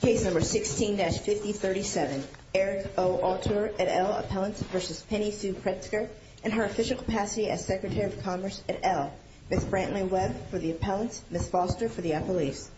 Case No. 16-5037. Eric O. Autor et al. Appellant v. Penny Sue Pritzker and her official capacity as Secretary of Commerce et al. Ms. Brantley Webb for the appellants, Ms. Foster for the appellees.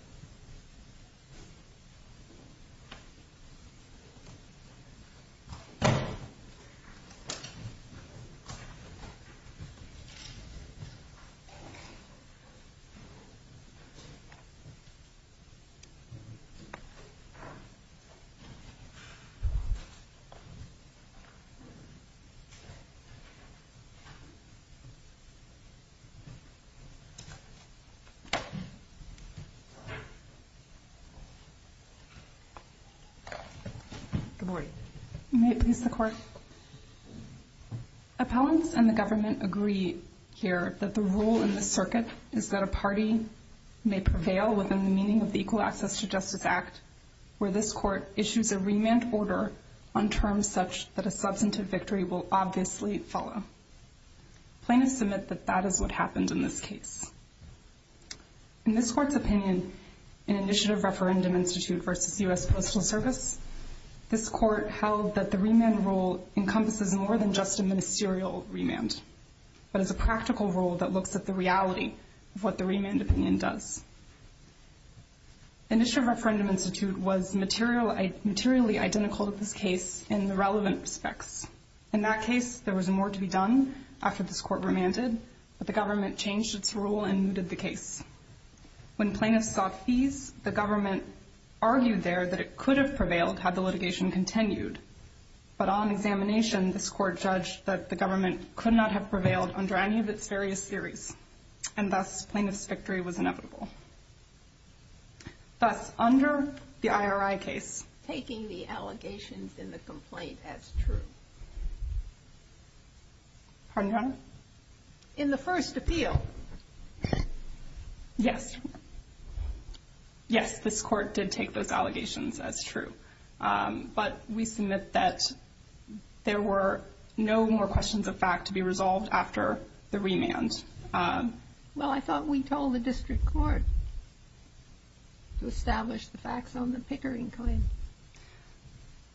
Good morning. May it please the Court? Appellants and the government agree here that the rule in this circuit is that a party may prevail within the meaning of the Equal Access to Justice Act where this Court issues a remand order on terms such that a substantive victory will obviously follow. Plaintiffs submit that that is what happened in this case. In this Court's opinion in Initiative Referendum Institute v. U.S. Postal Service, this Court held that the remand rule encompasses more than just a ministerial remand, but is a practical rule that looks at the reality of what the Initiative Referendum Institute was materially identical to this case in the relevant respects. In that case, there was more to be done after this Court remanded, but the government changed its rule and mooted the case. When plaintiffs sought fees, the government argued there that it could have prevailed had the litigation continued. But on examination, this Court judged that the government could not have prevailed under any of its various theories, and thus plaintiff's victory was inevitable. Thus, under the IRI case... Taking the allegations in the complaint as true. Pardon, Your Honor? In the first appeal. Yes. Yes, this Court did take those allegations as true. But we submit that there were no more questions of fact to be resolved after the remand. Well, I thought we told the district court to establish the facts on the Pickering claim.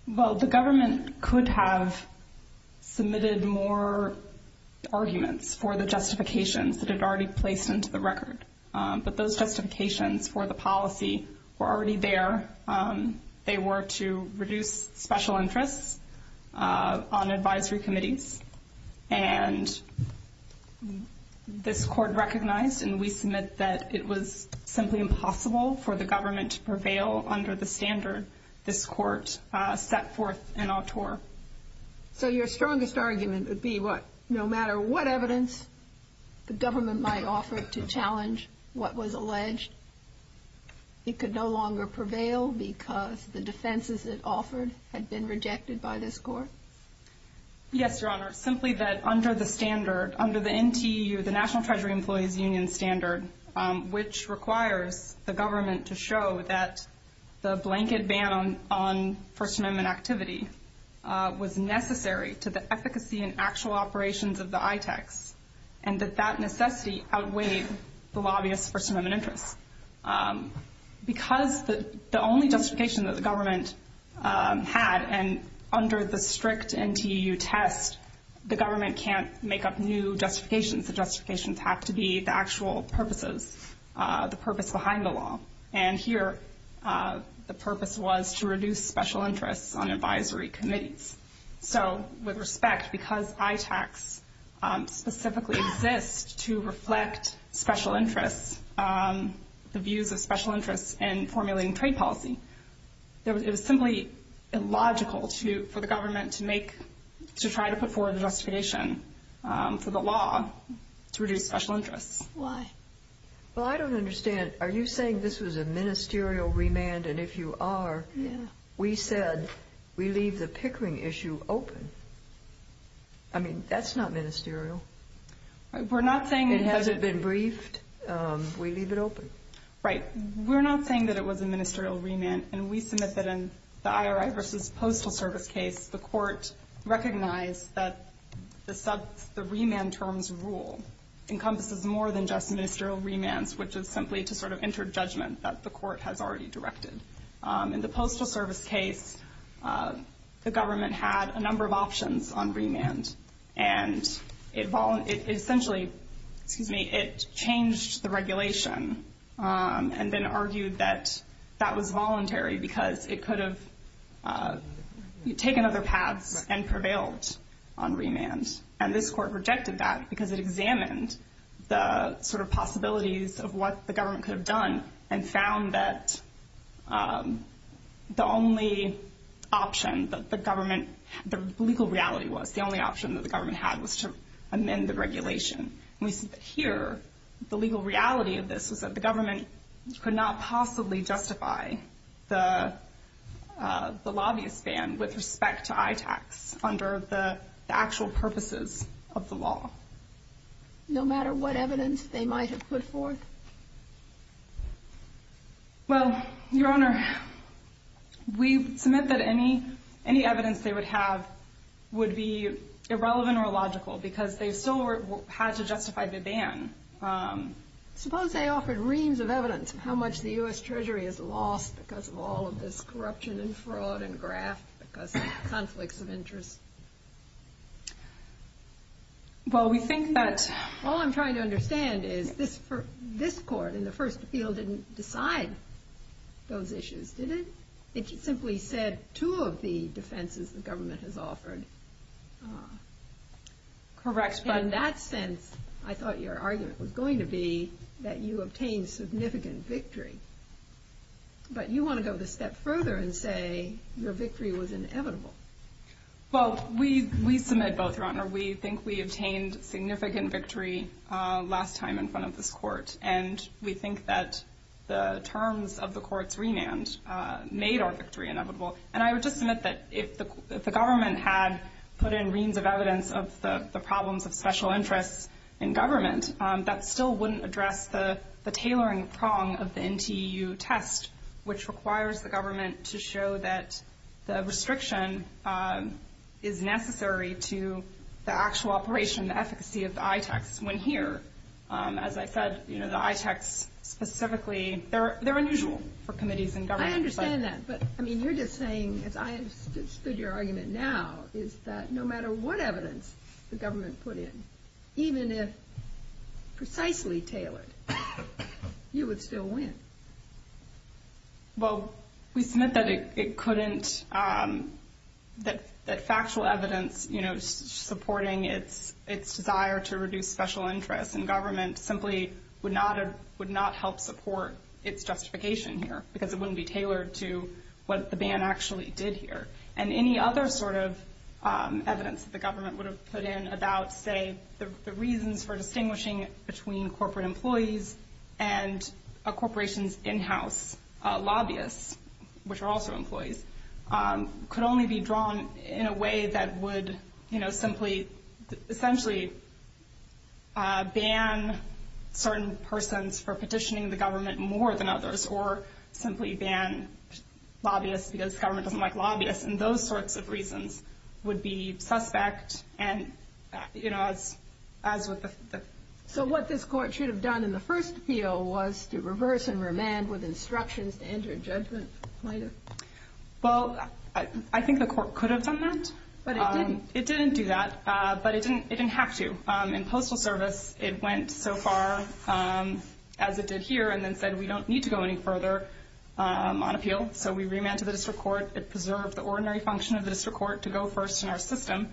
Well, the government could have submitted more arguments for the justifications that had already been placed into the record. But those justifications for the policy were already there. They were to reduce special interests on advisory committees. And this Court recognized, and we submit that it was simply impossible for the government to prevail under the standard this Court set forth in Autor. So your strongest argument would be that no matter what evidence the government might offer to challenge what was alleged, it could no longer prevail because the defenses it offered had been rejected by this Court? Yes, Your Honor. Simply that under the standard, under the NTEU, the National Treasury Employees Union standard, which requires the government to show that the blanket ban on First Amendment activity was necessary to the efficacy and actual operations of the ITECs, and that that outweighed the lobbyists' First Amendment interests. Because the only justification that the government had, and under the strict NTEU test, the government can't make up new justifications. The justifications have to be the actual purposes, the purpose behind the law. And here, the purpose was to reduce special interests on advisory committees. So, with respect, because ITECs specifically exist to reflect special interests, the views of special interests in formulating trade policy, it was simply illogical for the government to try to put forward a justification for the law to reduce special interests. Why? Well, I don't understand. Are you saying this was a ministerial remand, and if you are, we said, we leave the Pickering issue open. I mean, that's not ministerial. We're not saying it hasn't been briefed. We leave it open. Right. We're not saying that it was a ministerial remand, and we submit that in the IRI versus Postal Service case, the Court recognized that the remand terms rule encompasses more than just ministerial remands, which is simply to sort of enter judgment that the Postal Service case, the government had a number of options on remand, and it essentially, excuse me, it changed the regulation, and then argued that that was voluntary because it could have taken other paths and prevailed on remand. And this Court rejected that, because it examined the sort of possibilities of what the government could have done, and found that the only option that the government, the legal reality was, the only option that the government had was to amend the regulation. And we see that here, the legal reality of this was that the government could not possibly justify the lobbyist ban with respect to ITACs under the actual purposes of the law. No matter what evidence they might have put forth? Well, Your Honor, we submit that any evidence they would have would be irrelevant or illogical, because they still had to justify the ban. Suppose they offered reams of evidence of how much the U.S. Treasury has lost because of all of this corruption and fraud and graft, because of conflicts of interest. Well, we think that... All I'm trying to understand is this Court, in the first appeal, didn't decide those issues, did it? It simply said two of the defenses the government has offered. Correct, but... In that sense, I thought your argument was going to be that you obtained significant victory. But you want to go the step further and say your victory was inevitable. Well, we submit both, Your Honor. We think we obtained significant victory last time in front of this Court, and we think that the terms of the Court's remand made our victory inevitable. And I would just submit that if the government had put in reams of evidence of the problems of special interests in government, that still wouldn't address the tailoring prong of the NTU test, which requires the government to show that the restriction is necessary to the actual operation, the efficacy of the ITECs, when here, as I said, the ITECs specifically, they're unusual for committees in government. I understand that, but you're just saying, as I understood your argument now, is that no matter what evidence the government put in, even if precisely tailored, you would still win. Well, we submit that it couldn't, that factual evidence supporting its desire to reduce special interests in government simply would not help support its justification here because it wouldn't be tailored to what the ban actually did here. And any other sort of evidence that the government would have put in about, say, the reasons for distinguishing between corporate employees and a corporation's in-house lobbyists, which are also employees, could only be drawn in a way that would simply, essentially ban certain persons for petitioning the government more than others or simply ban lobbyists because government doesn't like lobbyists. And those sorts of reasons would be suspect and, you know, as with the... So what this court should have done in the first appeal was to reverse and remand with instructions to enter a judgment plenum? Well, I think the court could have done that. But it didn't? It didn't do that, but it didn't have to. In postal service, it went so far as it did here and then said we don't need to go any further on appeal. So we remanded to the district court. It preserved the ordinary function of the district court to go first in our system.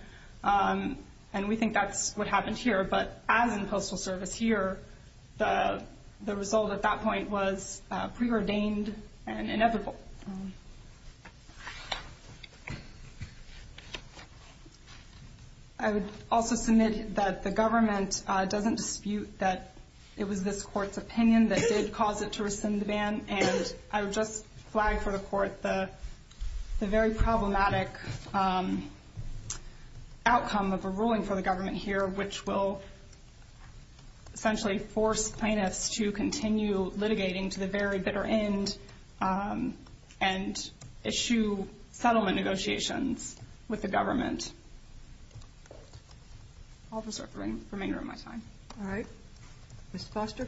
And we think that's what happened here. But as in postal service here, the result at that point was preordained and inevitable. I would also submit that the government doesn't dispute that it was this court's opinion that did cause it to rescind the ban. And I would just flag for the court the very problematic outcome of a ruling for the government here, which will essentially force plaintiffs to continue litigating to the very bitter end and issue settlement negotiations with the government. I'll just remain here on my time. All right. Thank you. Ms. Foster?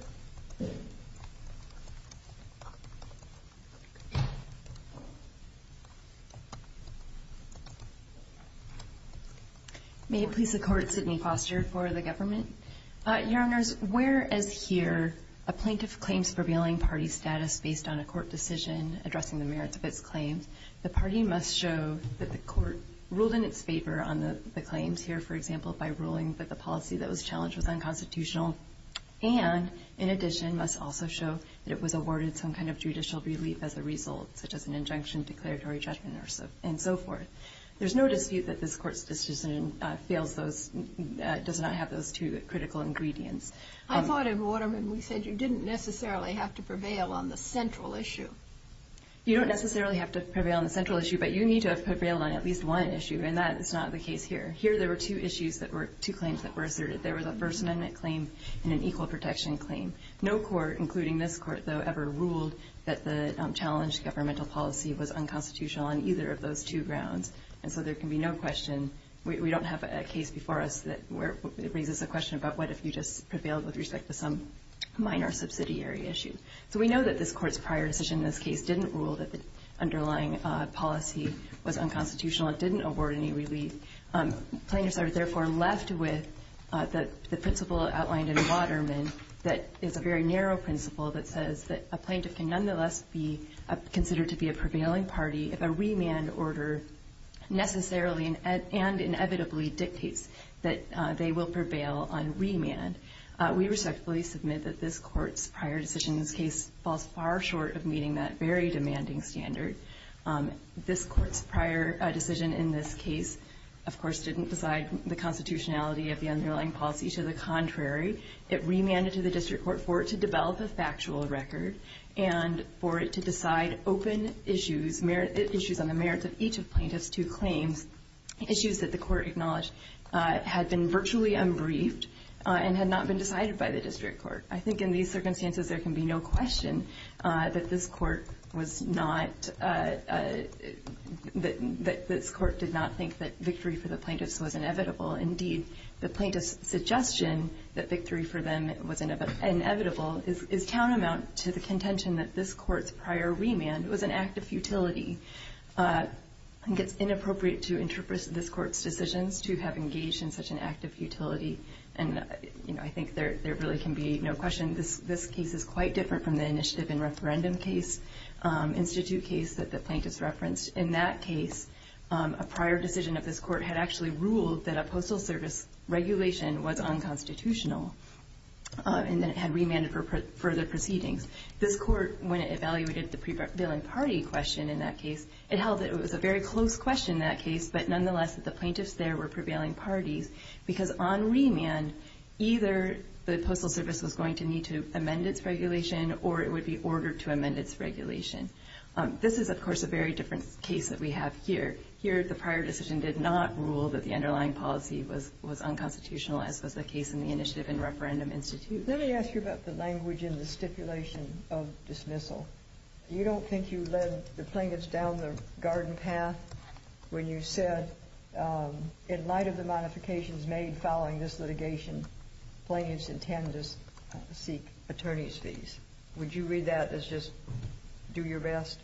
May it please the Court, Sidney Foster for the government. Your Honors, whereas here a plaintiff claims prevailing party status based on a court decision addressing the merits of its claims, the party must show that the court ruled in its favor on the claims here, for example, by ruling that the policy that was challenged was unconstitutional, and in addition must also show that it was awarded some kind of judicial relief as a result, such as an injunction, declaratory judgment, and so forth. There's no dispute that this court's decision fails those, does not have those two critical ingredients. I thought in Waterman we said you didn't necessarily have to prevail on the central issue. You don't necessarily have to prevail on the central issue, but you need to have prevailed on at least one issue, and that is not the case here. Here there were two issues that were – two claims that were asserted. There was a First Amendment claim and an equal protection claim. No court, including this court, though, ever ruled that the challenged governmental policy was unconstitutional on either of those two grounds, and so there can be no question – we don't have a case before us that raises a question about what if you just prevailed with respect to some minor subsidiary issue. So we know that this court's prior decision in this case didn't rule that the underlying policy was unconstitutional. It didn't award any relief. Plaintiffs are, therefore, left with the principle outlined in Waterman that is a very narrow principle that says that a plaintiff can nonetheless be considered to be a prevailing party if a remand order necessarily and inevitably dictates that they will prevail on remand. We respectfully submit that this court's prior decision in this case falls far short of meeting that very demanding standard. This court's prior decision in this case, of course, didn't decide the constitutionality of the underlying policy. To the contrary, it remanded to the district court for it to develop a factual record and for it to decide open issues – issues on the merits of each of plaintiffs' two claims, issues that the court acknowledged had been virtually unbriefed and had not been decided by the district court. I think in these circumstances there can be no question that this court was not – that this court did not think that victory for the plaintiffs was inevitable. Indeed, the plaintiffs' suggestion that victory for them was inevitable is countermount to the contention that this court's prior remand was an act of futility. I think it's inappropriate to interpret this court's decisions to have engaged in such an act of futility. I think there really can be no question this case is quite different from the initiative and referendum case, institute case, that the plaintiffs referenced. In that case, a prior decision of this court had actually ruled that a postal service regulation was unconstitutional, and then it had remanded for further proceedings. This court, when it evaluated the prevailing party question in that case, it held that it was a very close question in that case, but nonetheless that the plaintiffs there were prevailing parties, because on remand, either the postal service was going to need to amend its regulation or it would be ordered to amend its regulation. This is, of course, a very different case that we have here. Here, the prior decision did not rule that the underlying policy was unconstitutional, as was the case in the initiative and referendum institute. Let me ask you about the language in the stipulation of dismissal. You don't think you led the plaintiffs down the garden path when you said, in light of the modifications made following this litigation, plaintiffs intend to seek attorney's fees. Would you read that as just do your best?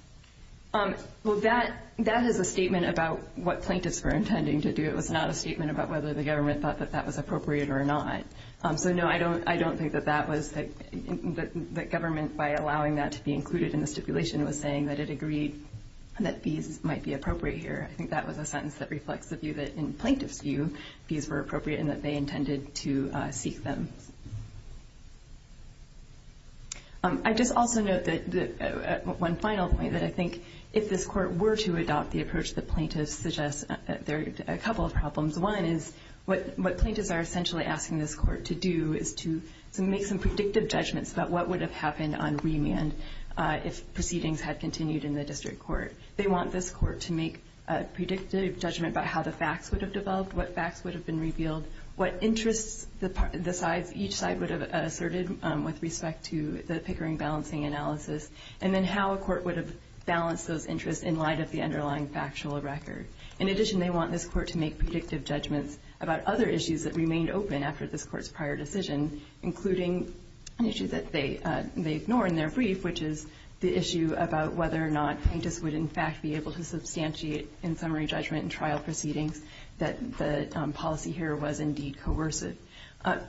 Well, that is a statement about what plaintiffs were intending to do. It was not a statement about whether the government thought that that was appropriate or not. So, no, I don't think that government, by allowing that to be included in the stipulation, was saying that it agreed that fees might be appropriate here. I think that was a sentence that reflects the view that, in plaintiffs' view, fees were appropriate and that they intended to seek them. I'd just also note one final point, that I think if this Court were to adopt the approach what plaintiffs are essentially asking this Court to do is to make some predictive judgments about what would have happened on remand if proceedings had continued in the district court. They want this Court to make a predictive judgment about how the facts would have developed, what facts would have been revealed, what interests each side would have asserted with respect to the Pickering balancing analysis, and then how a court would have balanced those interests in light of the underlying factual record. In addition, they want this Court to make predictive judgments about other issues that remained open after this Court's prior decision, including an issue that they ignore in their brief, which is the issue about whether or not plaintiffs would in fact be able to substantiate in summary judgment in trial proceedings that the policy here was indeed coercive.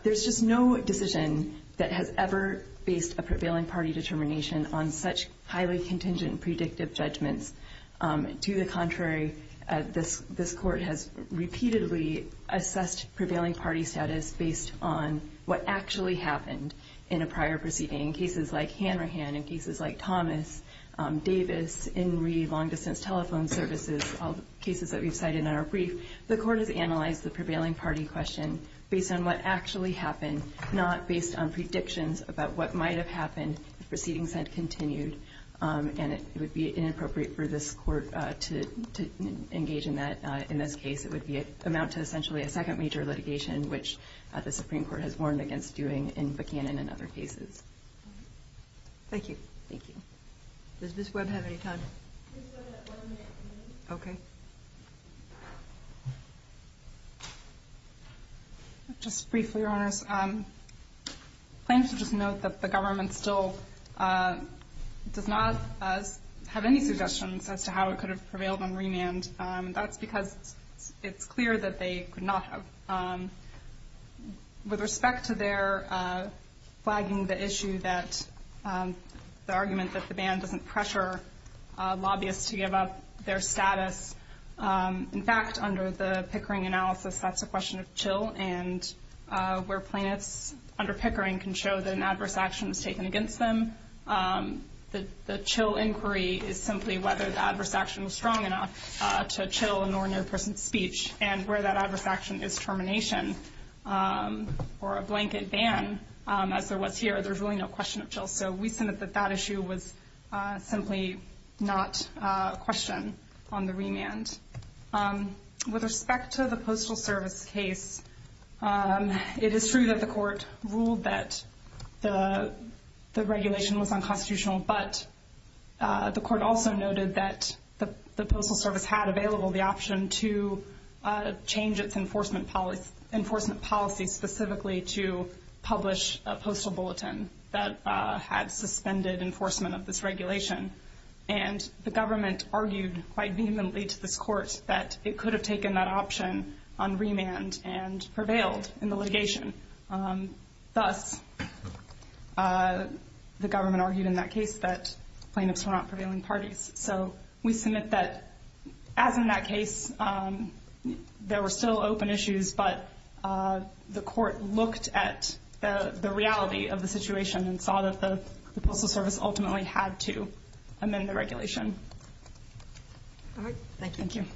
There's just no decision that has ever based a prevailing party determination on such highly contingent predictive judgments. To the contrary, this Court has repeatedly assessed prevailing party status based on what actually happened in a prior proceeding. In cases like Hanrahan, in cases like Thomas, Davis, Inree, long-distance telephone services, all the cases that we've cited in our brief, the Court has analyzed the prevailing party question based on what actually happened, not based on predictions about what might have happened if proceedings had continued. And it would be inappropriate for this Court to engage in this case. It would amount to essentially a second major litigation, which the Supreme Court has warned against doing in Buchanan and other cases. Thank you. Thank you. Okay. Just briefly, Your Honors. Plaintiffs should just note that the government still does not have any suggestions as to how it could have prevailed on remand. That's because it's clear that they could not have. With respect to their flagging the issue that the argument that the ban doesn't pressure lobbyists to give up their status, in fact, under the Pickering analysis, that's a question of chill, and where plaintiffs under Pickering can show that an adverse action was taken against them, the chill inquiry is simply whether the adverse action was strong enough to chill a non-near-person's speech. And where that adverse action is termination or a blanket ban, as there was here, there's really no question of chill. So we submit that that issue was simply not a question on the remand. With respect to the Postal Service case, it is true that the court ruled that the regulation was unconstitutional, but the court also noted that the Postal Service had available the option to change its enforcement policy specifically to publish a postal bulletin that had suspended enforcement of this regulation. And the government argued quite vehemently to this court that it could have taken that option on remand and prevailed in the litigation. Thus, the government argued in that case that plaintiffs were not prevailing parties. So we submit that, as in that case, there were still open issues, but the court looked at the reality of the situation and saw that the Postal Service ultimately had to amend the regulation. Thank you.